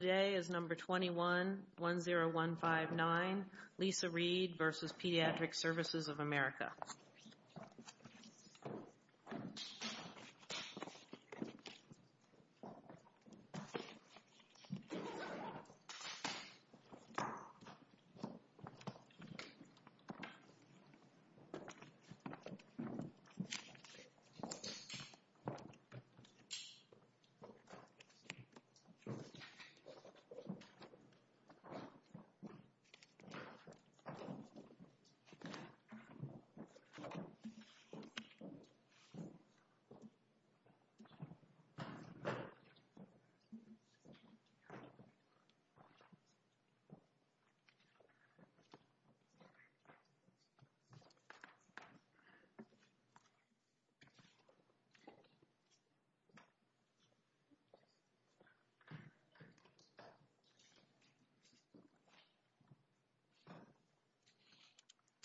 Today is number 21-10159, Lisa Reed v. Pediatric Services of America. Lisa Reed v. Pediatric Services of America.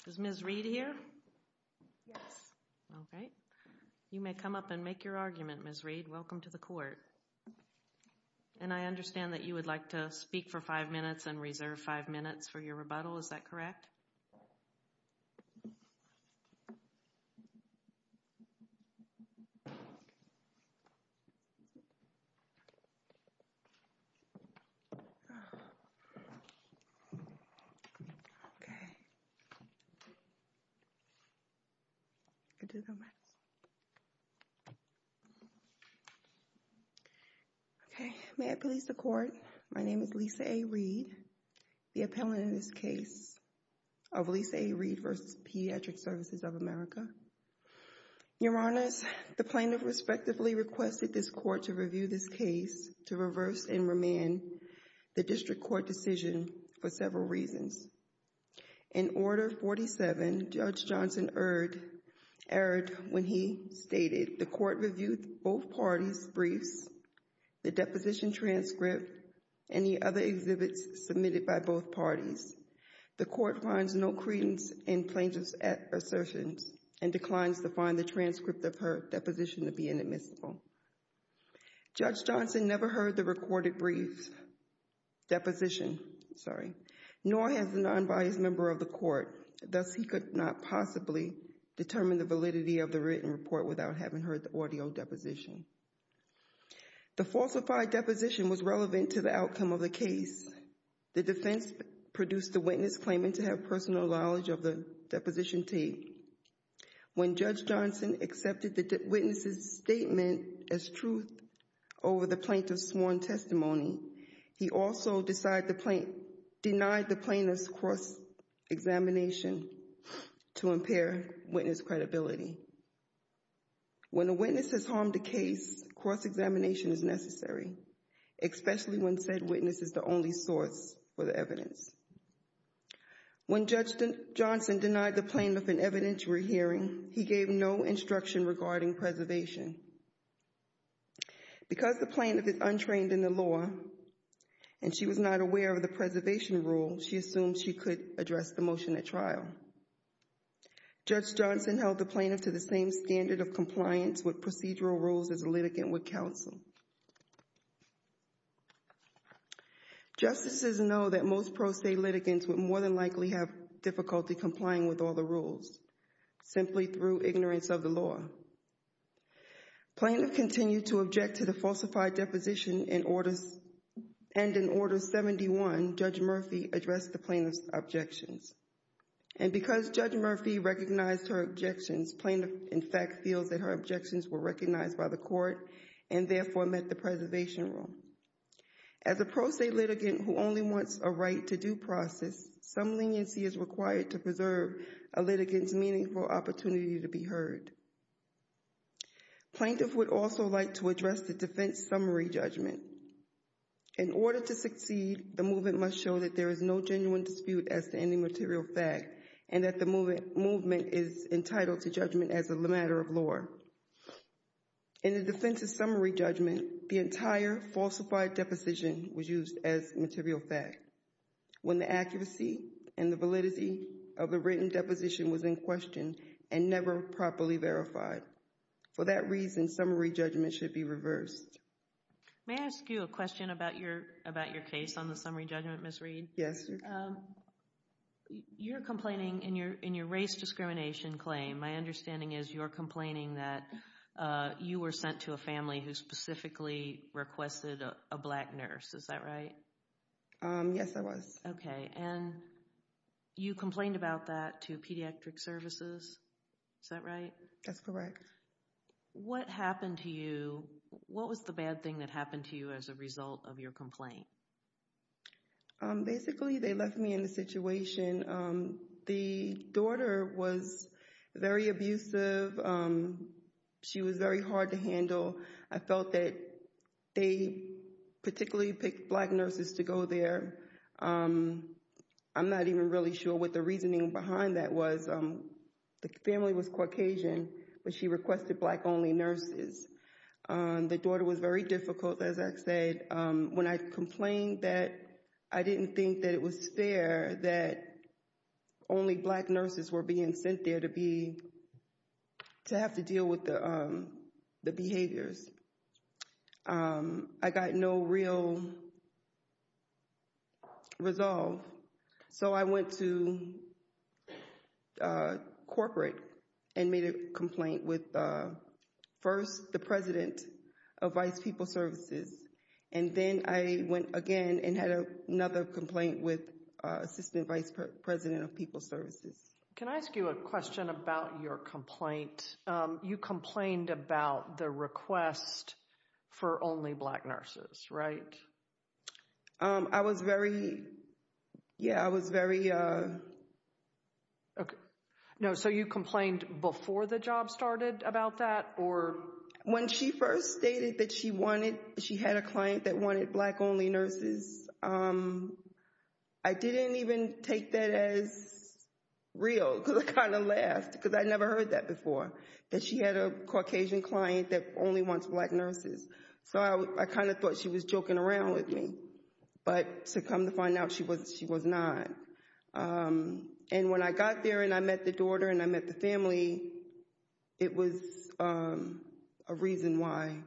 Is Ms. Reed here? Yes. Okay. You may come up and make your argument, Ms. Reed. Welcome to the court. And I understand that you would like to speak for five minutes and reserve five minutes for your rebuttal. Is that correct? Okay. Okay. May I please the court? My name is Lisa A. Reed, the appellant in this case of Lisa A. Reed v. Pediatric Services of America. Your Honors, the plaintiff respectively requested this court to review this case to reverse and remand the district court decision for several reasons. In Order 47, Judge Johnson erred when he stated the court reviewed both parties' briefs, the deposition transcript, and the other exhibits submitted by both parties. The court finds no credence in plaintiff's assertions and declines to find the transcript of her deposition to be inadmissible. Judge Johnson never heard the recorded brief deposition, sorry, nor has a non-biased member of the court. Thus, he could not possibly determine the validity of the written report without having heard the audio deposition. The falsified deposition was relevant to the outcome of the case. The defense produced the witness claiming to have personal knowledge of the deposition tape. When Judge Johnson accepted the witness's statement as truth over the plaintiff's sworn testimony, he also denied the plaintiff's cross-examination to impair witness credibility. When a witness has harmed a case, cross-examination is necessary, especially when said witness is the only source for the evidence. When Judge Johnson denied the plaintiff an evidentiary hearing, he gave no instruction regarding preservation. Because the plaintiff is untrained in the law and she was not aware of the preservation rule, she assumed she could address the motion at trial. Judge Johnson held the plaintiff to the same standard of compliance with procedural rules as a litigant would counsel. Justices know that most pro se litigants would more than likely have difficulty complying with all the rules, simply through ignorance of the law. Plaintiff continued to object to the falsified deposition and in Order 71, Judge Murphy addressed the plaintiff's objections. And because Judge Murphy recognized her objections, plaintiff in fact feels that her objections were recognized by the court and therefore met the preservation rule. As a pro se litigant who only wants a right to due process, some leniency is required to preserve a litigant's meaningful opportunity to be heard. Plaintiff would also like to address the defense summary judgment. In order to succeed, the movement must show that there is no genuine dispute as to any material fact and that the movement is entitled to judgment as a matter of law. In the defense's summary judgment, the entire falsified deposition was used as material fact when the accuracy and the validity of the written deposition was in question and never properly verified. For that reason, summary judgment should be reversed. May I ask you a question about your case on the summary judgment, Ms. Reed? Yes. You're complaining in your race discrimination claim, my understanding is you're complaining that you were sent to a family who specifically requested a black nurse, is that right? Yes, I was. Okay, and you complained about that to Pediatric Services, is that right? That's correct. What happened to you? What was the bad thing that happened to you as a result of your complaint? Basically, they left me in the situation. The daughter was very abusive. She was very hard to handle. I felt that they particularly picked black nurses to go there. I'm not even really sure what the reasoning behind that was. The family was Caucasian, but she requested black-only nurses. The daughter was very difficult, as I said. When I complained, I didn't think that it was fair that only black nurses were being sent there to have to deal with the behaviors. I got no real resolve, so I went to corporate and made a complaint with first the President of Vice People Services, and then I went again and had another complaint with Assistant Vice President of People Services. Can I ask you a question about your complaint? You complained about the request for only black nurses, right? I was very – yeah, I was very – Okay. No, so you complained before the job started about that, or – When she first stated that she wanted – she had a client that wanted black-only nurses, I didn't even take that as real, because I kind of laughed, because I'd never heard that before, that she had a Caucasian client that only wants black nurses. So I kind of thought she was joking around with me, but to come to find out, she was not. And when I got there and I met the daughter and I met the family, it was a reason why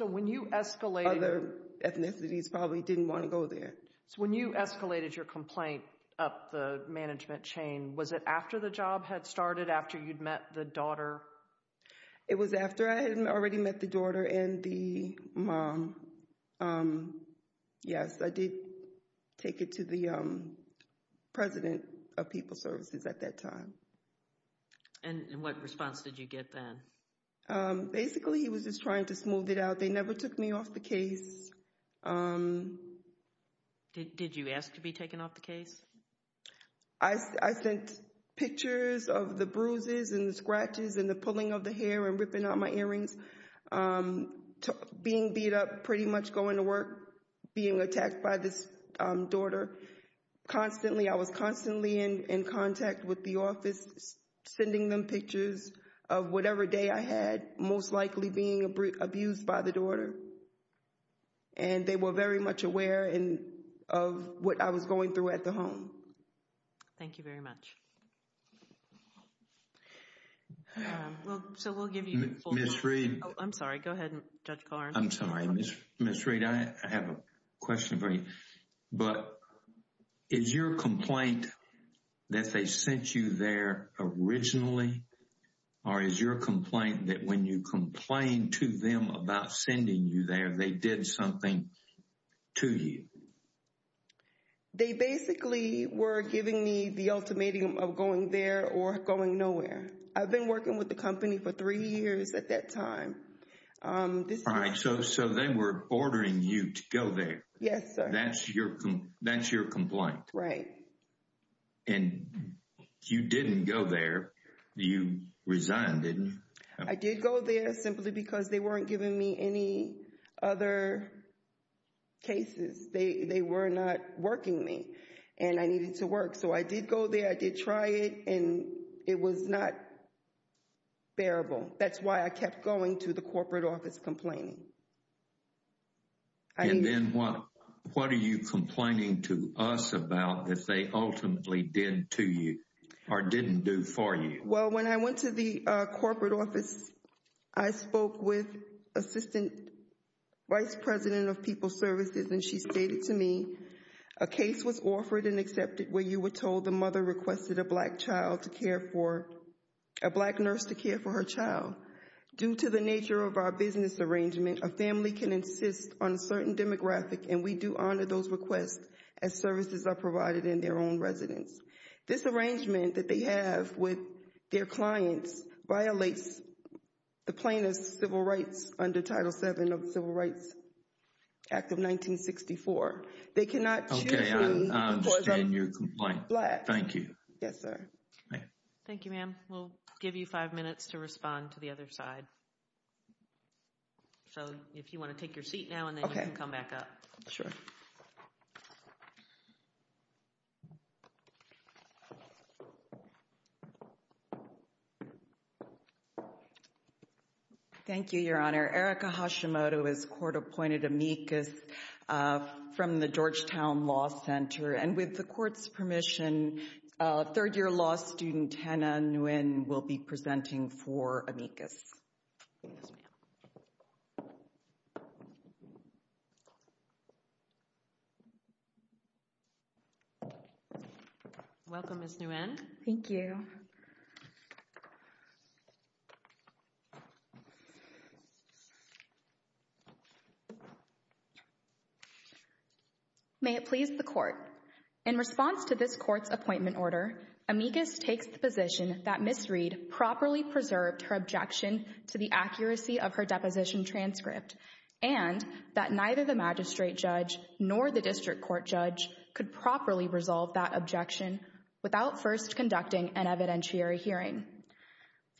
other ethnicities probably didn't want to go there. So when you escalated your complaint up the management chain, was it after the job had started, after you'd met the daughter? It was after I had already met the daughter and the mom. Yes, I did take it to the President of People Services at that time. And what response did you get then? Basically, he was just trying to smooth it out. They never took me off the case. I sent pictures of the bruises and the scratches and the pulling of the hair and ripping out my earrings, being beat up, pretty much going to work, being attacked by this daughter. Constantly, I was constantly in contact with the office, sending them pictures of whatever day I had, most likely being abused by the daughter. And they were very much aware of what I was going through at the home. Thank you very much. Ms. Freed. I'm sorry. Go ahead, Judge Carnes. I'm sorry. Ms. Freed, I have a question for you. But is your complaint that they sent you there originally, or is your complaint that when you complained to them about sending you there, they did something to you? They basically were giving me the ultimatum of going there or going nowhere. I've been working with the company for three years at that time. All right. So then we're ordering you to go there. Yes, sir. That's your complaint. Right. And you didn't go there. You resigned, didn't you? I did go there simply because they weren't giving me any other cases. They were not working me, and I needed to work. So I did go there. I did try it, and it was not bearable. That's why I kept going to the corporate office complaining. And then what are you complaining to us about that they ultimately did to you or didn't do for you? Well, when I went to the corporate office, I spoke with Assistant Vice President of People's Services, and she stated to me, A case was offered and accepted where you were told the mother requested a black nurse to care for her child. Due to the nature of our business arrangement, a family can insist on a certain demographic, and we do honor those requests as services are provided in their own residence. This arrangement that they have with their clients violates the plaintiff's civil rights under Title VII of the Civil Rights Act of 1964. They cannot choose me because I'm black. Thank you. Yes, sir. Thank you, ma'am. We'll give you five minutes to respond to the other side. So if you want to take your seat now, and then you can come back up. Sure. Thank you, Your Honor. Erica Hashimoto is court-appointed amicus from the Georgetown Law Center. And with the court's permission, third-year law student Hannah Nguyen will be presenting for amicus. Yes, ma'am. Welcome, Ms. Nguyen. Thank you. May it please the court. In response to this court's appointment order, amicus takes the position that Ms. Reed properly preserved her objection to the accuracy of her deposition transcript and that neither the magistrate judge nor the district court judge could properly resolve that objection without first conducting an evidentiary hearing.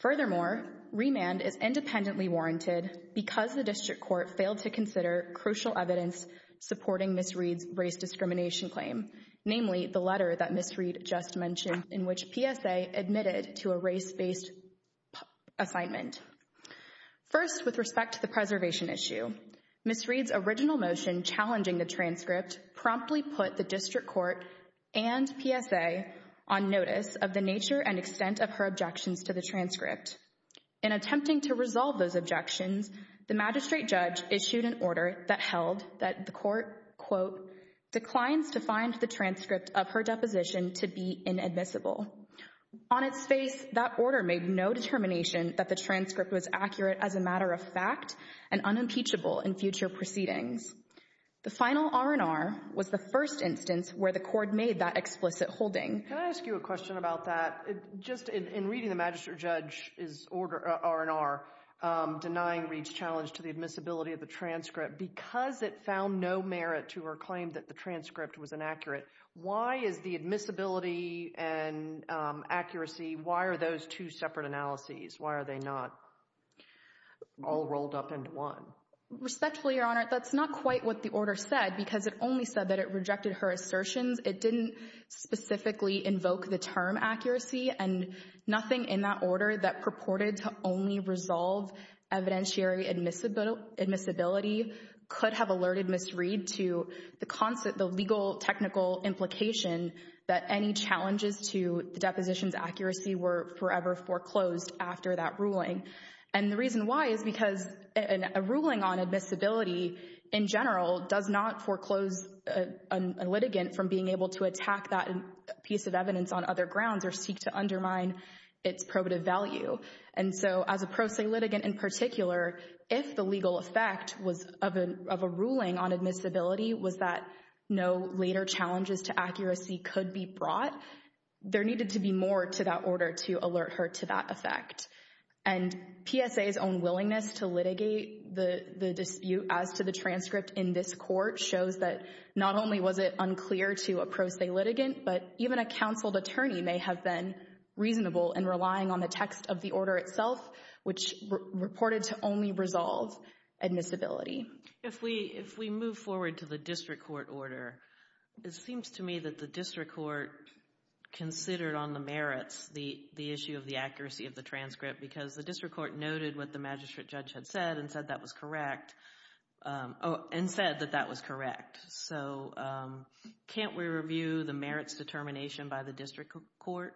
Furthermore, remand is independently warranted because the district court failed to consider crucial evidence supporting Ms. Reed's race discrimination claim, namely the letter that Ms. Reed just mentioned in which PSA admitted to a race-based assignment. First, with respect to the preservation issue, Ms. Reed's original motion challenging the transcript promptly put the district court and PSA on notice of the nature and extent of her objections to the transcript. In attempting to resolve those objections, the magistrate judge issued an order that held that the court, quote, declines to find the transcript of her deposition to be inadmissible. On its face, that order made no determination that the transcript was accurate as a matter of fact and unimpeachable in future proceedings. The final R&R was the first instance where the court made that explicit holding. Can I ask you a question about that? Just in reading the magistrate judge's order, R&R, denying Reed's challenge to the admissibility of the transcript because it found no merit to her claim that the transcript was inaccurate, why is the admissibility and accuracy, why are those two separate analyses, why are they not all rolled up into one? Respectfully, Your Honor, that's not quite what the order said because it only said that it rejected her assertions. It didn't specifically invoke the term accuracy and nothing in that order that purported to only resolve evidentiary admissibility could have alerted Ms. Reed to the legal technical implication that any challenges to the deposition's accuracy were forever foreclosed after that ruling. And the reason why is because a ruling on admissibility in general does not foreclose a litigant from being able to attack that piece of evidence on other grounds or seek to undermine its probative value. And so as a pro se litigant in particular, if the legal effect of a ruling on admissibility was that no later challenges to accuracy could be brought, there needed to be more to that order to alert her to that effect. And PSA's own willingness to litigate the dispute as to the transcript in this court shows that not only was it unclear to a pro se litigant, but even a counseled attorney may have been reasonable in relying on the text of the order itself, which reported to only resolve admissibility. If we move forward to the district court order, it seems to me that the district court considered on the merits the issue of the accuracy of the transcript because the district court noted what the magistrate judge had said and said that was correct. And said that that was correct. So can't we review the merits determination by the district court?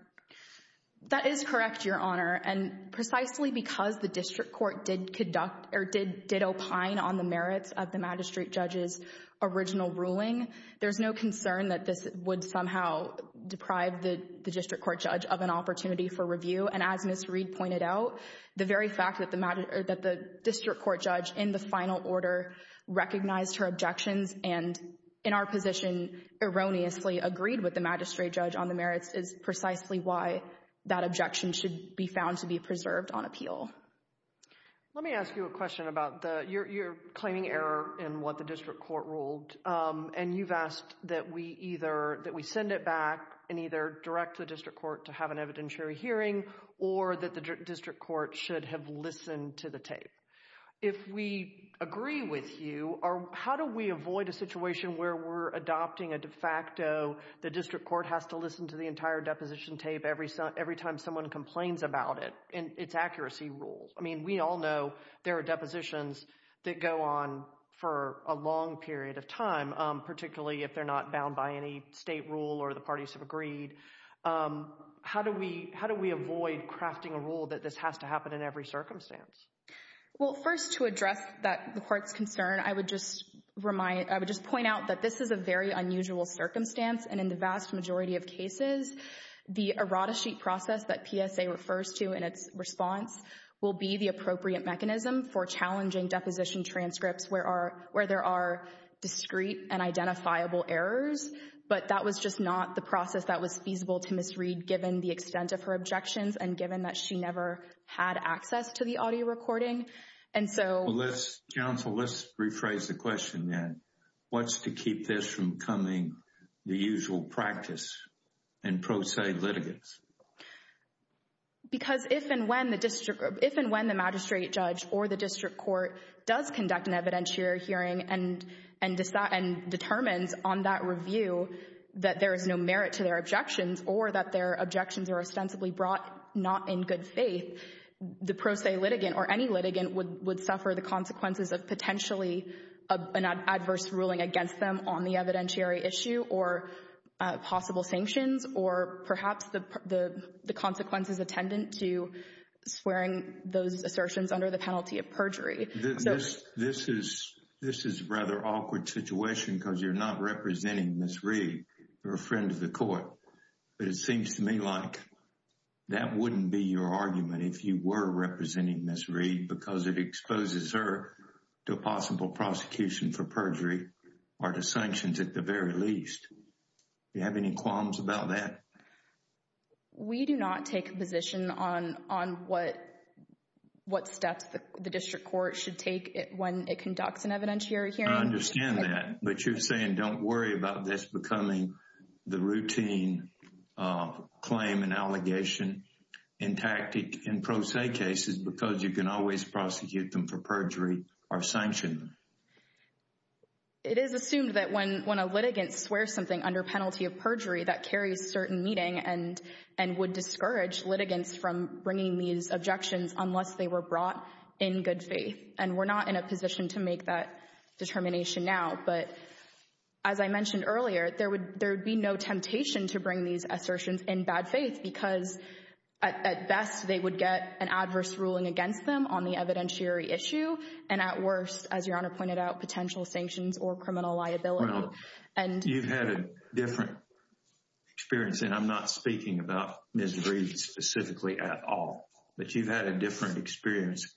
That is correct, Your Honor. And precisely because the district court did conduct or did opine on the merits of the magistrate judge's original ruling, there's no concern that this would somehow deprive the district court judge of an opportunity for review. And as Ms. Reed pointed out, the very fact that the district court judge in the final order recognized her objections and in our position erroneously agreed with the magistrate judge on the merits is precisely why that objection should be found to be preserved on appeal. Let me ask you a question about your claiming error in what the district court ruled. And you've asked that we send it back and either direct the district court to have an evidentiary hearing or that the district court should have listened to the tape. If we agree with you, how do we avoid a situation where we're adopting a de facto the district court has to listen to the entire deposition tape every time someone complains about it and its accuracy rules? I mean, we all know there are depositions that go on for a long period of time, particularly if they're not bound by any state rule or the parties have agreed. How do we avoid crafting a rule that this has to happen in every circumstance? Well, first, to address the court's concern, I would just point out that this is a very unusual circumstance, and in the vast majority of cases, the errata sheet process that PSA refers to in its response will be the appropriate mechanism for challenging deposition transcripts where there are discrete and identifiable errors. But that was just not the process that was feasible to misread given the extent of her objections and given that she never had access to the audio recording. Counsel, let's rephrase the question then. What's to keep this from becoming the usual practice in pro se litigants? Because if and when the magistrate judge or the district court does conduct an evidentiary hearing and determines on that review that there is no merit to their objections or that their objections are ostensibly brought not in good faith, the pro se litigant or any litigant would suffer the consequences of potentially an adverse ruling against them on the evidentiary issue or possible sanctions or perhaps the consequences attendant to swearing those assertions under the penalty of perjury. This is a rather awkward situation because you're not representing Ms. Reed. You're a friend of the court. But it seems to me like that wouldn't be your argument if you were representing Ms. Reed because it exposes her to a possible prosecution for perjury or to sanctions at the very least. Do you have any qualms about that? We do not take a position on what steps the district court should take when it conducts an evidentiary hearing. I understand that. But you're saying don't worry about this becoming the routine claim and allegation in tactic in pro se cases because you can always prosecute them for perjury or sanction them. It is assumed that when a litigant swears something under penalty of perjury that carries certain meaning and would discourage litigants from bringing these objections unless they were brought in good faith. And we're not in a position to make that determination now. But as I mentioned earlier, there would be no temptation to bring these assertions in bad faith because at best they would get an adverse ruling against them on the evidentiary issue and at worst, as Your Honor pointed out, potential sanctions or criminal liability. You've had a different experience. And I'm not speaking about Ms. Reed specifically at all. But you've had a different experience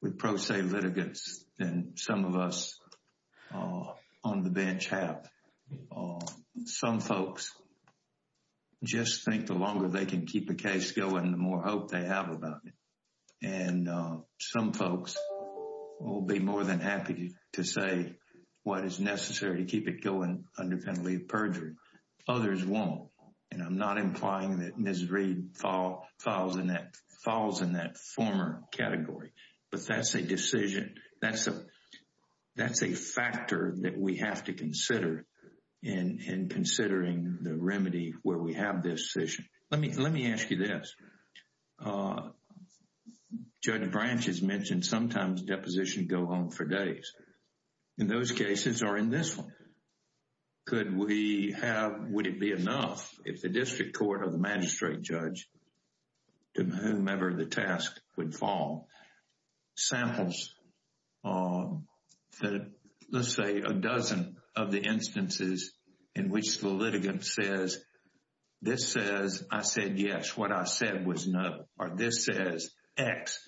with pro se litigants than some of us on the bench have. Some folks just think the longer they can keep the case going, the more hope they have about it. And some folks will be more than happy to say what is necessary to keep it going under penalty of perjury. Others won't. And I'm not implying that Ms. Reed falls in that former category. But that's a decision. That's a factor that we have to consider in considering the remedy where we have this decision. Let me ask you this. Judge Branch has mentioned sometimes depositions go on for days. And those cases are in this one. Could we have, would it be enough if the district court or the magistrate judge, to whomever the task would fall, samples, let's say, a dozen of the instances in which the litigant says, this says I said yes, what I said was no. Or this says X,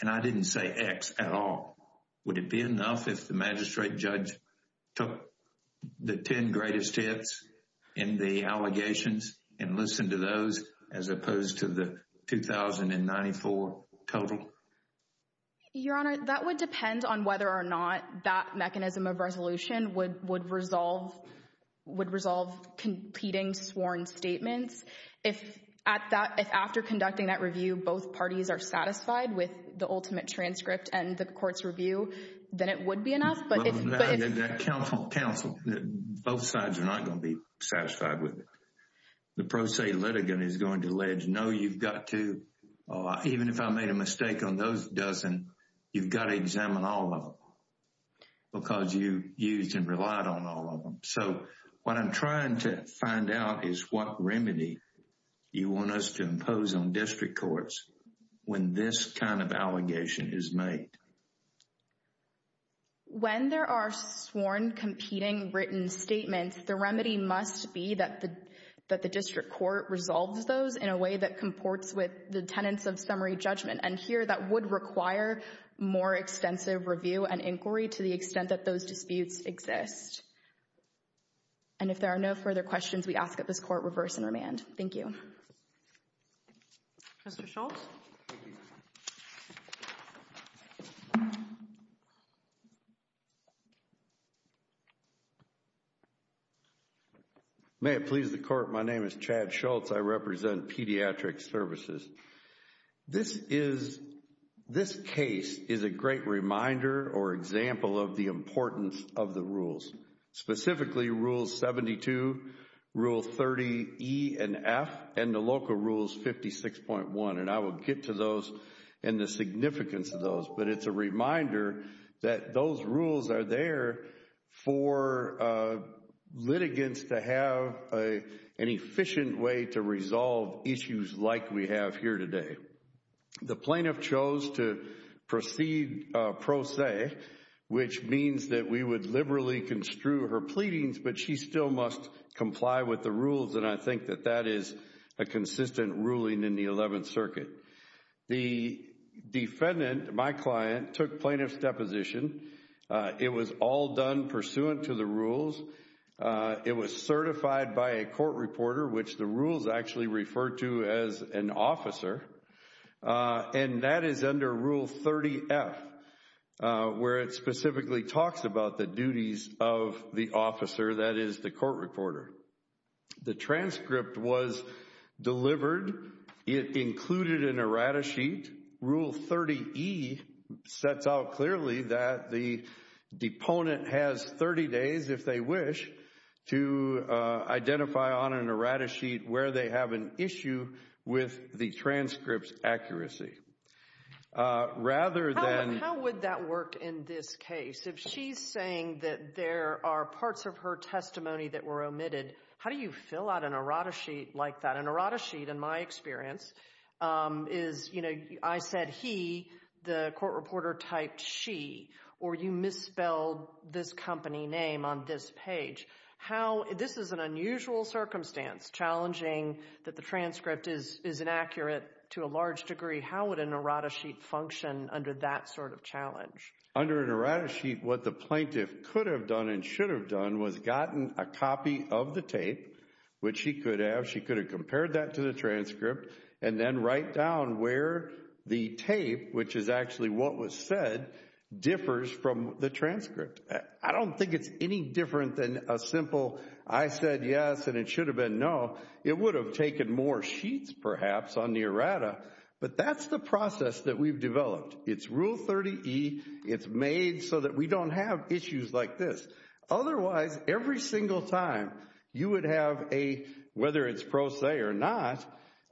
and I didn't say X at all. Would it be enough if the magistrate judge took the 10 greatest hits in the allegations and listened to those as opposed to the 2,094 total? Your Honor, that would depend on whether or not that mechanism of resolution would resolve competing sworn statements. If after conducting that review, both parties are satisfied with the ultimate transcript and the court's review, then it would be enough. Counsel, both sides are not going to be satisfied with it. The pro se litigant is going to allege, no, you've got to, even if I made a mistake on those dozen, you've got to examine all of them because you used and relied on all of them. So what I'm trying to find out is what remedy you want us to impose on district courts when this kind of allegation is made. When there are sworn competing written statements, the remedy must be that the district court resolves those in a way that comports with the tenets of summary judgment. And here, that would require more extensive review and inquiry to the extent that those disputes exist. And if there are no further questions, we ask that this court reverse and remand. Thank you. Mr. Schultz. May it please the court, my name is Chad Schultz. I represent Pediatric Services. This case is a great reminder or example of the importance of the rules. Specifically, Rules 72, Rule 30E and F, and the local Rules 56.1. And I will get to those and the significance of those, but it's a reminder that those rules are there for litigants to have an efficient way to resolve issues like we have here today. The plaintiff chose to proceed pro se, which means that we would liberally construe her pleadings, but she still must comply with the rules, and I think that that is a consistent ruling in the Eleventh Circuit. The defendant, my client, took plaintiff's deposition. It was all done pursuant to the rules. It was certified by a court reporter, which the rules actually refer to as an officer, and that is under Rule 30F, where it specifically talks about the duties of the officer, that is, the court reporter. The transcript was delivered. It included an errata sheet. Rule 30E sets out clearly that the deponent has 30 days, if they wish, to identify on an errata sheet where they have an issue with the transcript's accuracy. How would that work in this case? If she's saying that there are parts of her testimony that were omitted, how do you fill out an errata sheet like that? An errata sheet, in my experience, is, you know, I said he, the court reporter typed she, or you misspelled this company name on this page. This is an unusual circumstance, challenging that the transcript is inaccurate to a large degree. How would an errata sheet function under that sort of challenge? Under an errata sheet, what the plaintiff could have done and should have done was gotten a copy of the tape, which she could have. She could have compared that to the transcript and then write down where the tape, which is actually what was said, differs from the transcript. I don't think it's any different than a simple, I said yes and it should have been no. It would have taken more sheets, perhaps, on the errata, but that's the process that we've developed. It's Rule 30E. It's made so that we don't have issues like this. Otherwise, every single time you would have a, whether it's pro se or not,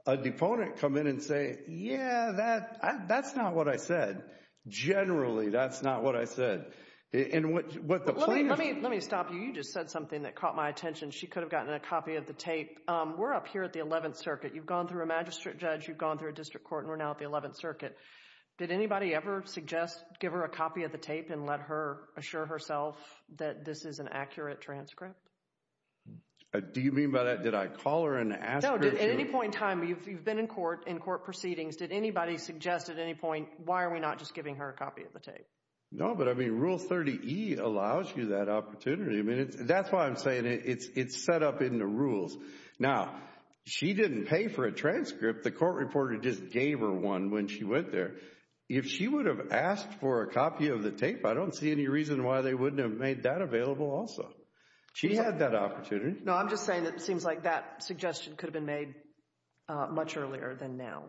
a deponent come in and say, yeah, that's not what I said. Generally, that's not what I said. Let me stop you. You just said something that caught my attention. She could have gotten a copy of the tape. We're up here at the 11th Circuit. You've gone through a magistrate judge, you've gone through a district court, and we're now at the 11th Circuit. Did anybody ever suggest give her a copy of the tape and let her assure herself that this is an accurate transcript? Do you mean by that, did I call her and ask her to? No, at any point in time, you've been in court, in court proceedings. Did anybody suggest at any point, why are we not just giving her a copy of the tape? No, but, I mean, Rule 30E allows you that opportunity. That's why I'm saying it's set up in the rules. Now, she didn't pay for a transcript. The court reporter just gave her one when she went there. If she would have asked for a copy of the tape, I don't see any reason why they wouldn't have made that available also. She had that opportunity. No, I'm just saying that it seems like that suggestion could have been made much earlier than now.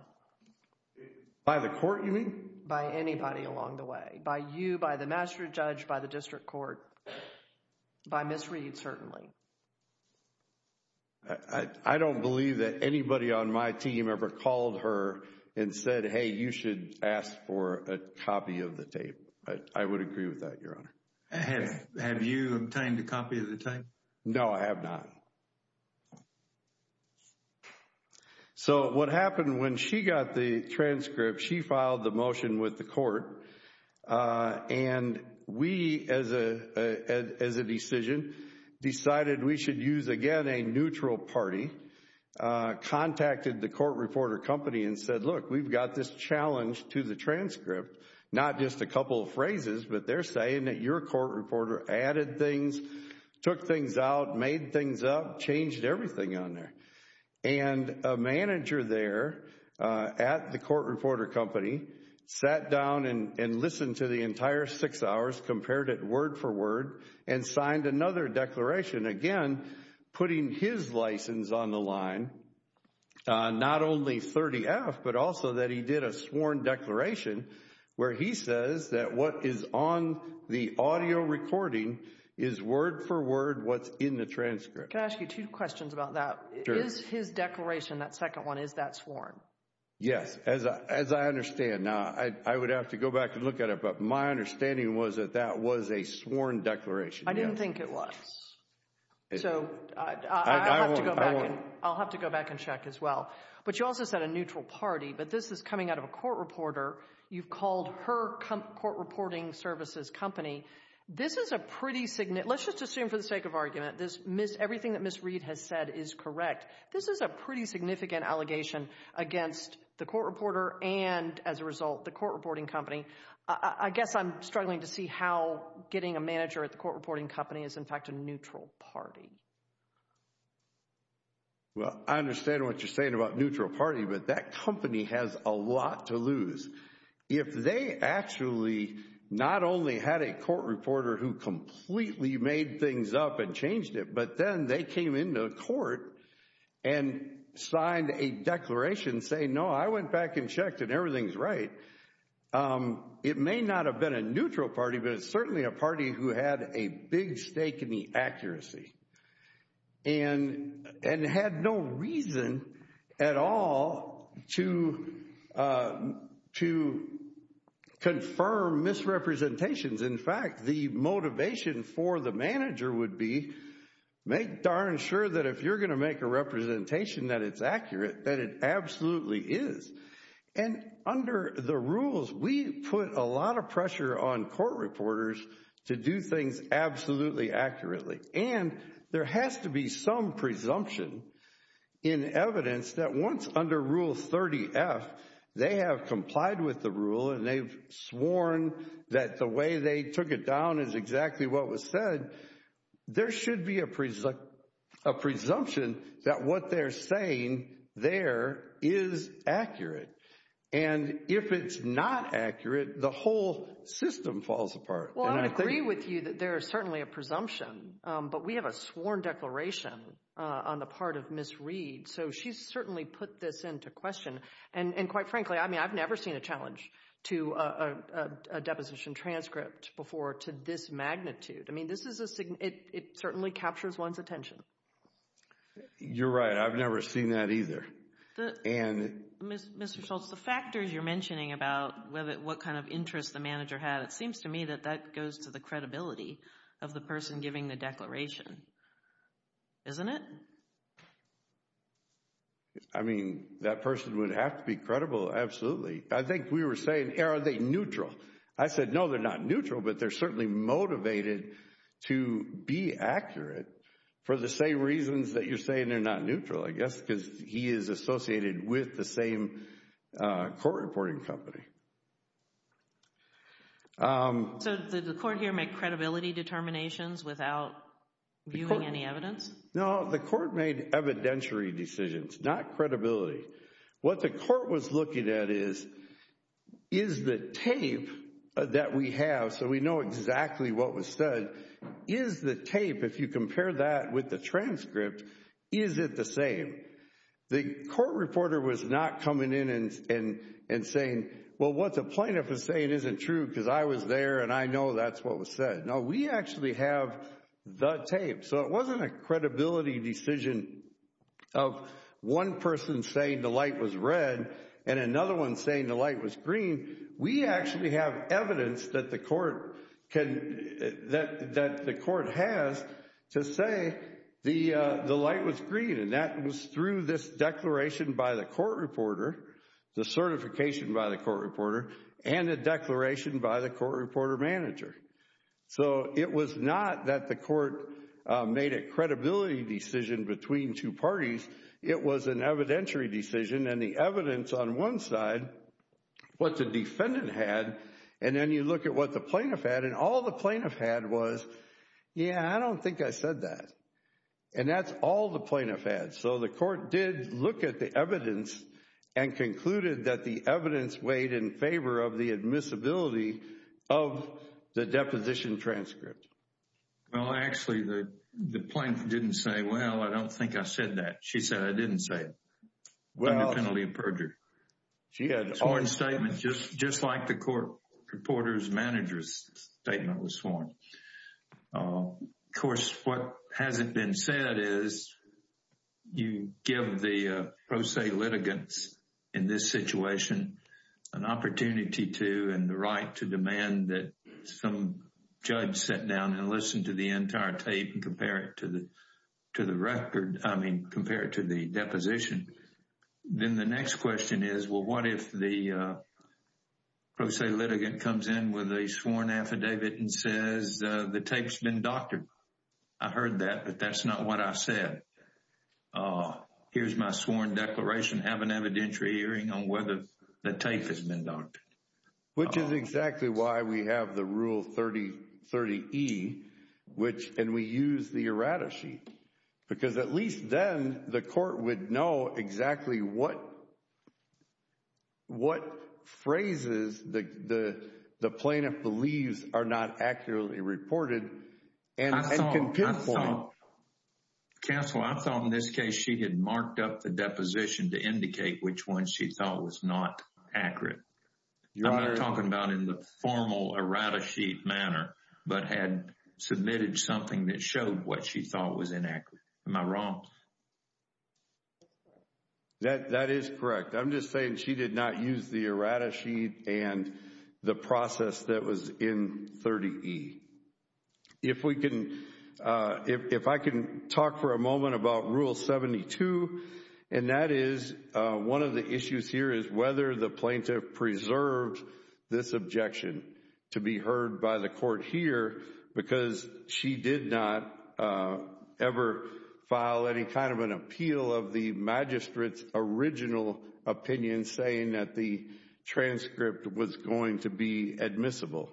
By the court, you mean? By anybody along the way. By you, by the magistrate judge, by the district court, by Ms. Reed, certainly. I don't believe that anybody on my team ever called her and said, hey, you should ask for a copy of the tape. I would agree with that, Your Honor. Have you obtained a copy of the tape? No, I have not. So, what happened when she got the transcript, she filed the motion with the court. And we, as a decision, decided we should use, again, a neutral party, contacted the court reporter company and said, look, we've got this challenge to the transcript. Not just a couple of phrases, but they're saying that your court reporter added things, took things out, made things up, changed everything on there. And a manager there at the court reporter company sat down and listened to the entire six hours, compared it word for word, and signed another declaration. Again, putting his license on the line, not only 30-F, but also that he did a sworn declaration where he says that what is on the audio recording is word for word what's in the transcript. Can I ask you two questions about that? Sure. Is his declaration, that second one, is that sworn? Yes, as I understand. Now, I would have to go back and look at it, but my understanding was that that was a sworn declaration. I didn't think it was. So, I'll have to go back and check as well. But you also said a neutral party, but this is coming out of a court reporter. You've called her court reporting services company. Let's just assume for the sake of argument, everything that Ms. Reed has said is correct. This is a pretty significant allegation against the court reporter and, as a result, the court reporting company. I guess I'm struggling to see how getting a manager at the court reporting company is, in fact, a neutral party. Well, I understand what you're saying about neutral party, but that company has a lot to lose. If they actually not only had a court reporter who completely made things up and changed it, but then they came into court and signed a declaration saying, no, I went back and checked and everything's right, it may not have been a neutral party, but it's certainly a party who had a big stake in the accuracy and had no reason at all to confirm misrepresentations. In fact, the motivation for the manager would be, make darn sure that if you're going to make a representation that it's accurate, that it absolutely is. And under the rules, we put a lot of pressure on court reporters to do things absolutely accurately. And there has to be some presumption in evidence that once under Rule 30F they have complied with the rule and they've sworn that the way they took it down is exactly what was said, there should be a presumption that what they're saying there is accurate. And if it's not accurate, the whole system falls apart. Well, I would agree with you that there is certainly a presumption, but we have a sworn declaration on the part of Ms. Reed. So she's certainly put this into question. And quite frankly, I mean, I've never seen a challenge to a deposition transcript before to this magnitude. I mean, it certainly captures one's attention. You're right. I've never seen that either. Mr. Schultz, the factors you're mentioning about what kind of interest the manager had, it seems to me that that goes to the credibility of the person giving the declaration, isn't it? I mean, that person would have to be credible, absolutely. I think we were saying, are they neutral? I said, no, they're not neutral, but they're certainly motivated to be accurate for the same reasons that you're saying they're not neutral, I guess, because he is associated with the same court reporting company. So did the court here make credibility determinations without viewing any evidence? No, the court made evidentiary decisions, not credibility. What the court was looking at is, is the tape that we have, so we know exactly what was said, is the tape, if you compare that with the transcript, is it the same? The court reporter was not coming in and saying, well, what the plaintiff is saying isn't true because I was there and I know that's what was said. No, we actually have the tape. So it wasn't a credibility decision of one person saying the light was red and another one saying the light was green. We actually have evidence that the court has to say the light was green, and that was through this declaration by the court reporter, the certification by the court reporter, and a declaration by the court reporter manager. So it was not that the court made a credibility decision between two parties. It was an evidentiary decision, and the evidence on one side, what the defendant had, and then you look at what the plaintiff had, and all the plaintiff had was, yeah, I don't think I said that, and that's all the plaintiff had. So the court did look at the evidence and concluded that the evidence weighed in favor of the admissibility of the deposition transcript. Well, actually, the plaintiff didn't say, well, I don't think I said that. She said I didn't say it under penalty of perjury. The sworn statement, just like the court reporter's manager's statement was sworn. Of course, what hasn't been said is you give the pro se litigants in this situation an opportunity to and the right to demand that some judge sit down and listen to the entire tape and compare it to the record, I mean, compare it to the deposition. Then the next question is, well, what if the pro se litigant comes in with a sworn affidavit and says the tape's been doctored? I heard that, but that's not what I said. Here's my sworn declaration, have an evidentiary hearing on whether the tape has been doctored. Which is exactly why we have the Rule 30E, and we use the errata sheet, because at least then the court would know exactly what phrases the plaintiff believes are not accurately reported Counsel, I thought in this case she had marked up the deposition to indicate which one she thought was not accurate. I'm not talking about in the formal errata sheet manner, but had submitted something that showed what she thought was inaccurate. Am I wrong? That is correct. I'm just saying she did not use the errata sheet and the process that was in 30E. If we can, if I can talk for a moment about Rule 72, and that is one of the issues here is whether the plaintiff preserved this objection to be heard by the court here, because she did not ever file any kind of an appeal of the magistrate's original opinion saying that the transcript was going to be admissible.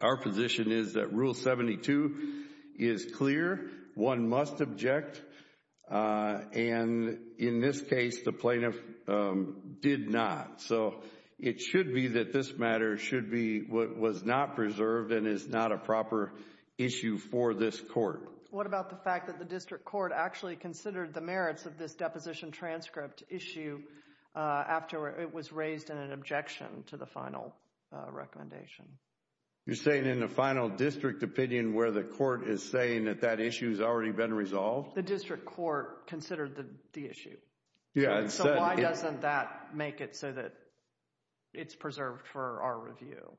Our position is that Rule 72 is clear, one must object, and in this case the plaintiff did not. So it should be that this matter should be what was not preserved and is not a proper issue for this court. What about the fact that the district court actually considered the merits of this deposition transcript issue after it was raised in an objection to the final recommendation? You're saying in the final district opinion where the court is saying that that issue has already been resolved? The district court considered the issue. So why doesn't that make it so that it's preserved for our review?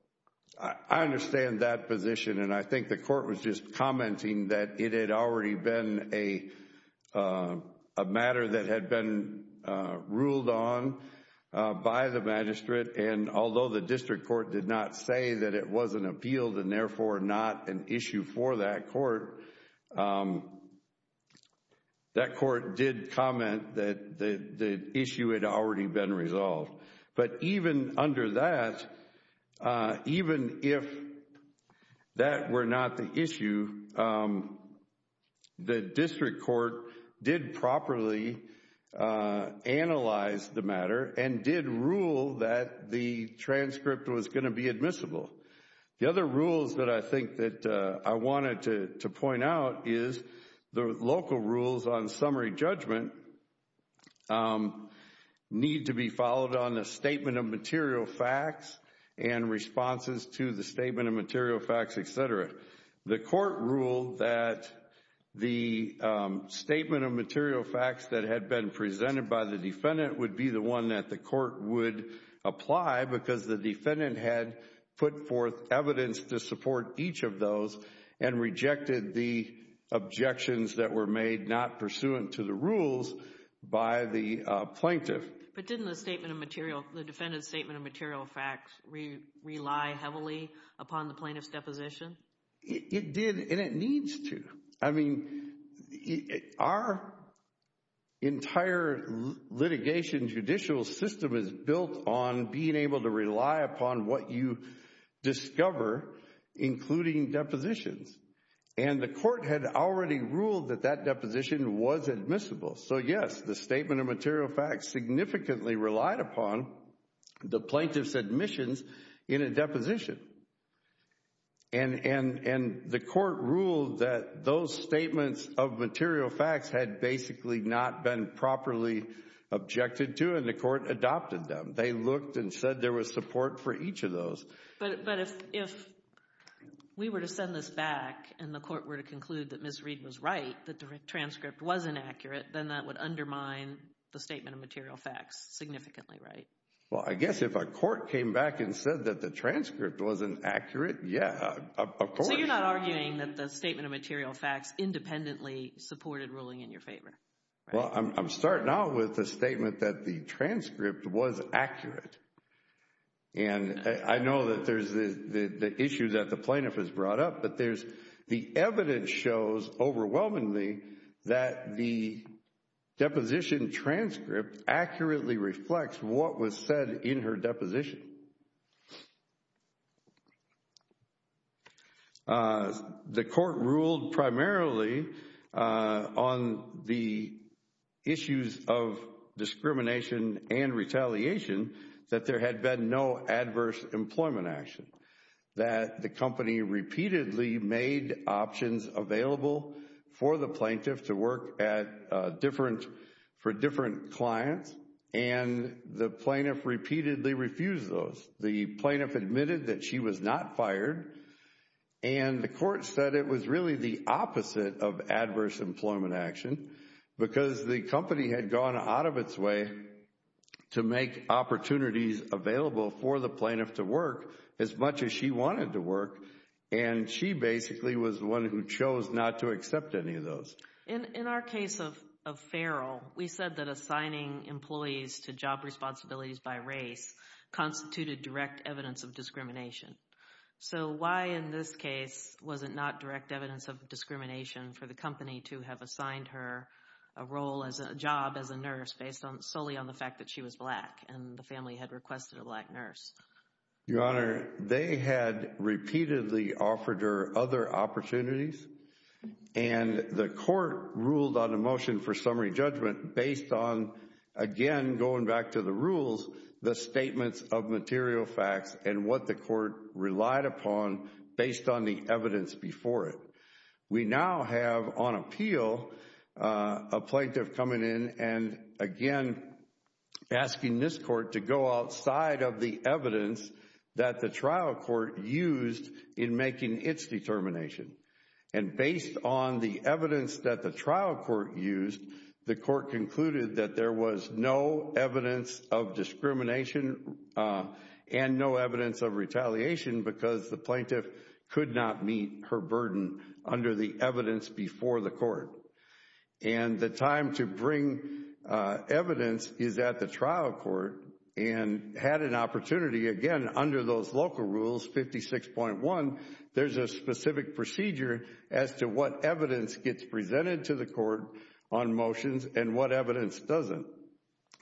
I understand that position, and I think the court was just commenting that it had already been a matter that had been ruled on by the magistrate, and although the district court did not say that it was an appeal and therefore not an issue for that court, that court did comment that the issue had already been resolved. But even under that, even if that were not the issue, the district court did properly analyze the matter and did rule that the transcript was going to be admissible. The other rules that I think that I wanted to point out is the local rules on summary judgment need to be followed on the statement of material facts and responses to the statement of material facts, etc. The court ruled that the statement of material facts that had been presented by the defendant would be the one that the court would apply because the defendant had put forth evidence to support each of those and rejected the objections that were made not pursuant to the rules by the plaintiff. But didn't the defendant's statement of material facts rely heavily upon the plaintiff's deposition? It did, and it needs to. I mean, our entire litigation judicial system is built on being able to rely upon what you discover, including depositions. And the court had already ruled that that deposition was admissible. So yes, the statement of material facts significantly relied upon the plaintiff's admissions in a deposition. And the court ruled that those statements of material facts had basically not been properly objected to, and the court adopted them. They looked and said there was support for each of those. But if we were to send this back and the court were to conclude that Ms. Reed was right, that the transcript was inaccurate, then that would undermine the statement of material facts significantly, right? Well, I guess if a court came back and said that the transcript wasn't accurate, yeah, of course. So you're not arguing that the statement of material facts independently supported ruling in your favor? Well, I'm starting out with the statement that the transcript was accurate. And I know that there's the issue that the plaintiff has brought up, but there's the evidence shows overwhelmingly that the deposition transcript accurately reflects what was said in her deposition. The court ruled primarily on the issues of discrimination and retaliation that there had been no adverse employment action, that the company repeatedly made options available for the plaintiff to work for different clients, and the plaintiff repeatedly refused those. The plaintiff admitted that she was not fired, and the court said it was really the opposite of adverse employment action because the company had gone out of its way to make opportunities available for the plaintiff to work as much as she wanted to work, and she basically was the one who chose not to accept any of those. In our case of Farrell, we said that assigning employees to job responsibilities by race constituted direct evidence of discrimination. So why in this case was it not direct evidence of discrimination for the company to have assigned her a job as a nurse based solely on the fact that she was black and the family had requested a black nurse? Your Honor, they had repeatedly offered her other opportunities, and the court ruled on a motion for summary judgment based on, again, going back to the rules, the statements of material facts and what the court relied upon based on the evidence before it. We now have on appeal a plaintiff coming in and, again, asking this court to go outside of the evidence that the trial court used in making its determination. And based on the evidence that the trial court used, the court concluded that there was no evidence of discrimination and no evidence of retaliation because the plaintiff could not meet her burden under the evidence before the court. And the time to bring evidence is at the trial court and had an opportunity, again, under those local rules, 56.1, there's a specific procedure as to what evidence gets presented to the court on motions and what evidence doesn't.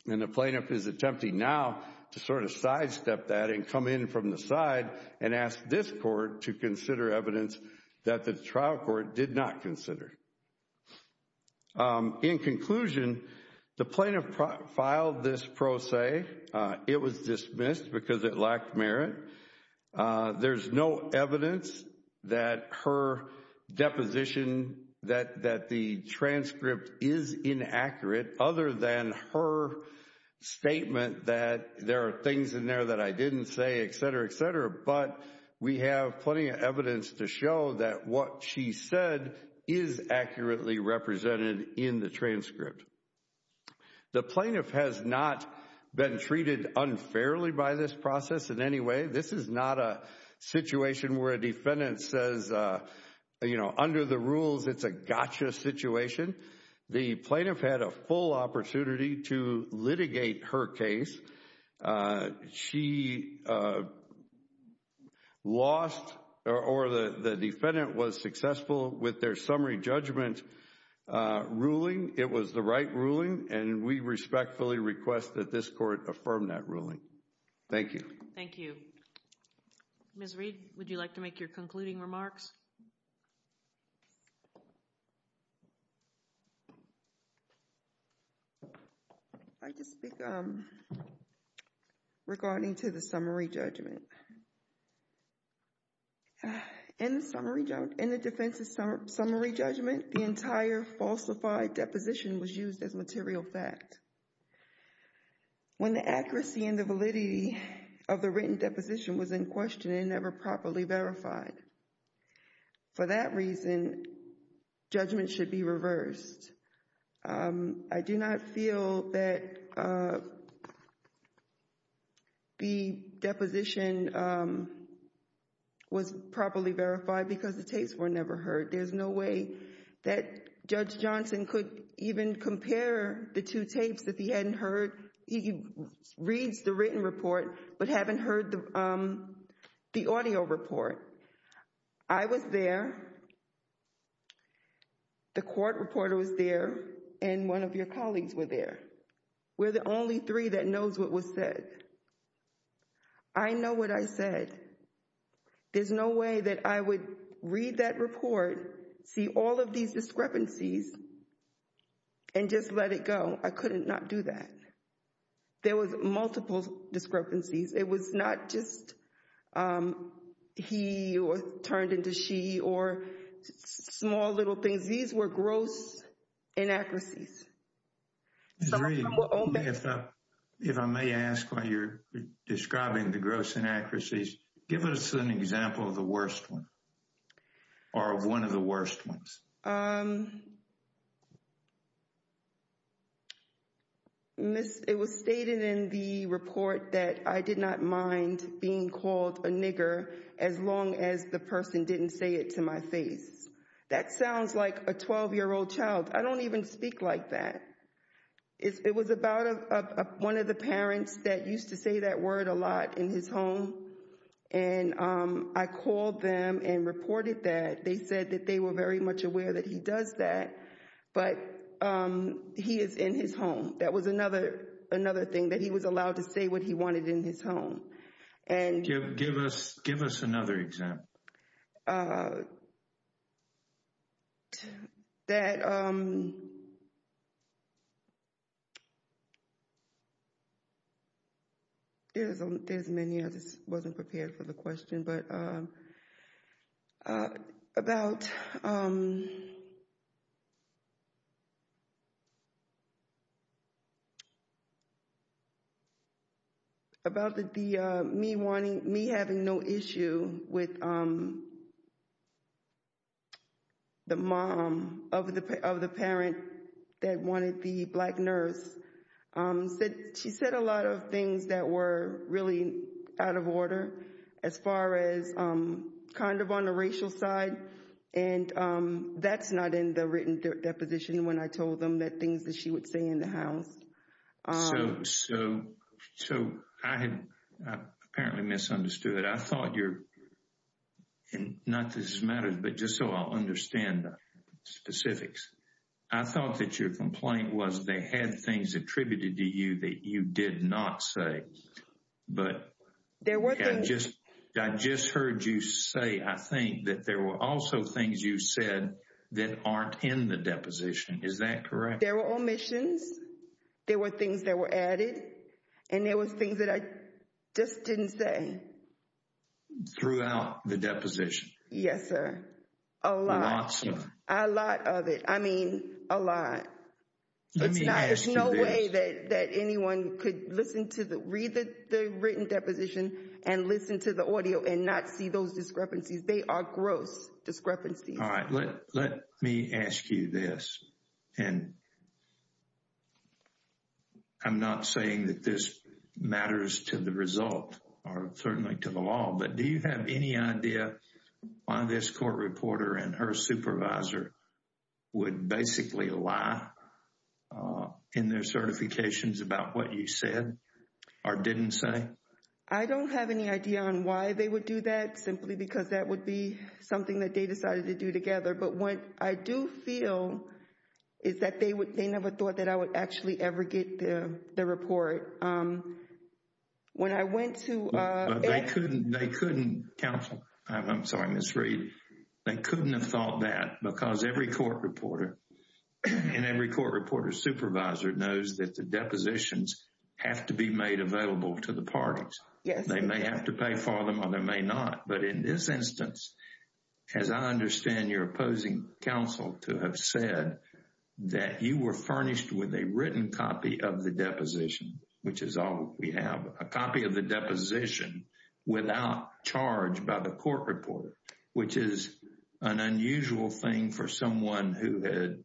And the plaintiff is attempting now to sort of sidestep that and come in from the side and ask this court to consider evidence that the trial court did not consider. In conclusion, the plaintiff filed this pro se. It was dismissed because it lacked merit. There's no evidence that her deposition that the transcript is inaccurate, other than her statement that there are things in there that I didn't say, etc., etc. But we have plenty of evidence to show that what she said is accurately represented in the transcript. The plaintiff has not been treated unfairly by this process in any way. This is not a situation where a defendant says, you know, under the rules it's a gotcha situation. The plaintiff had a full opportunity to litigate her case. She lost or the defendant was successful with their summary judgment ruling. It was the right ruling, and we respectfully request that this court affirm that ruling. Thank you. Thank you. Ms. Reed, would you like to make your concluding remarks? I'd just speak regarding to the summary judgment. In the defense's summary judgment, the entire falsified deposition was used as material fact. When the accuracy and the validity of the written deposition was in question and never properly verified. For that reason, judgment should be reversed. I do not feel that the deposition was properly verified because the tapes were never heard. There's no way that Judge Johnson could even compare the two tapes that he hadn't heard. He reads the written report but hadn't heard the audio report. I was there. The court reporter was there and one of your colleagues were there. We're the only three that knows what was said. I know what I said. There's no way that I would read that report, see all of these discrepancies, and just let it go. I couldn't not do that. There was multiple discrepancies. It was not just he or turned into she or small little things. These were gross inaccuracies. Ms. Reed, if I may ask while you're describing the gross inaccuracies, give us an example of the worst one. Or one of the worst ones. It was stated in the report that I did not mind being called a nigger as long as the person didn't say it to my face. That sounds like a 12-year-old child. I don't even speak like that. It was about one of the parents that used to say that word a lot in his home, and I called them and reported that. They said that they were very much aware that he does that, but he is in his home. That was another thing, that he was allowed to say what he wanted in his home. Give us another example. There's many. I just wasn't prepared for the question. But about the me having no issue with the mom of the parent that wanted the black nurse, she said a lot of things that were really out of order as far as kind of on the racial side. And that's not in the written deposition when I told them the things that she would say in the house. So I had apparently misunderstood it. I thought your, not that this matters, but just so I'll understand the specifics. I thought that your complaint was they had things attributed to you that you did not say. But I just heard you say, I think, that there were also things you said that aren't in the deposition. Is that correct? There were omissions. There were things that were added. And there were things that I just didn't say. Throughout the deposition. Yes, sir. A lot. Lots of it. A lot of it. I mean, a lot. Let me ask you this. There's no way that anyone could read the written deposition and listen to the audio and not see those discrepancies. They are gross discrepancies. All right. Let me ask you this. And I'm not saying that this matters to the result or certainly to the law. But do you have any idea why this court reporter and her supervisor would basically lie in their certifications about what you said or didn't say? I don't have any idea on why they would do that simply because that would be something that they decided to do together. But what I do feel is that they never thought that I would actually ever get the report. When I went to. They couldn't. They couldn't counsel. I'm sorry, Miss Reed. They couldn't have thought that because every court reporter and every court reporter supervisor knows that the depositions have to be made available to the parties. Yes. They may have to pay for them or they may not. But in this instance, as I understand your opposing counsel to have said that you were furnished with a written copy of the deposition, which is all we have, a copy of the deposition without charge by the court reporter, which is an unusual thing for someone who had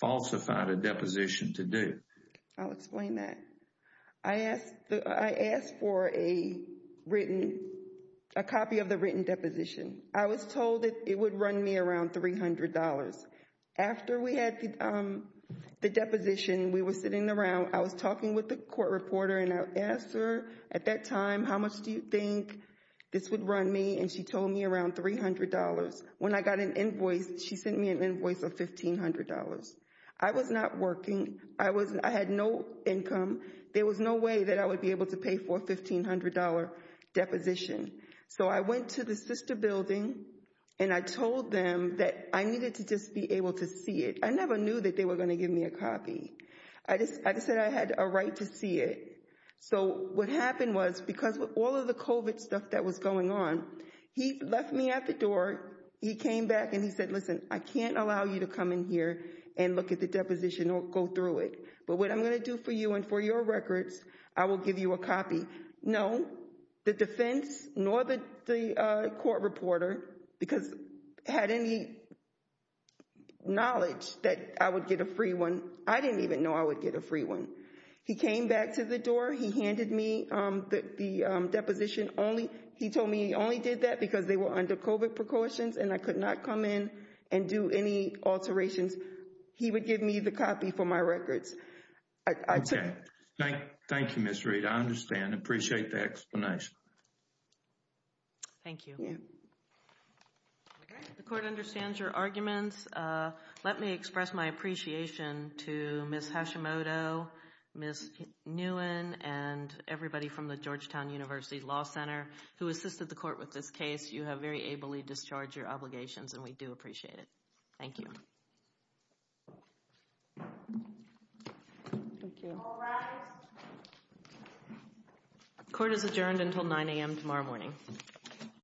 falsified a deposition to do. I'll explain that. I asked for a written, a copy of the written deposition. I was told that it would run me around $300. After we had the deposition, we were sitting around. I was talking with the court reporter and I asked her at that time, how much do you think this would run me? And she told me around $300. When I got an invoice, she sent me an invoice of $1,500. I was not working. I had no income. There was no way that I would be able to pay for a $1,500 deposition. So I went to the sister building and I told them that I needed to just be able to see it. I never knew that they were going to give me a copy. I just said I had a right to see it. So what happened was, because of all of the COVID stuff that was going on, he left me at the door. He came back and he said, listen, I can't allow you to come in here and look at the deposition or go through it. But what I'm going to do for you and for your records, I will give you a copy. No, the defense nor the court reporter, because had any knowledge that I would get a free one, I didn't even know I would get a free one. He came back to the door. He handed me the deposition. He told me he only did that because they were under COVID precautions and I could not come in and do any alterations. He would give me the copy for my records. Thank you, Ms. Reed. I understand. I appreciate the explanation. Thank you. The court understands your arguments. Let me express my appreciation to Ms. Hashimoto, Ms. Nguyen, and everybody from the Georgetown University Law Center who assisted the court with this case. You have very ably discharged your obligations and we do appreciate it. Thank you. Court is adjourned until 9 a.m. tomorrow morning.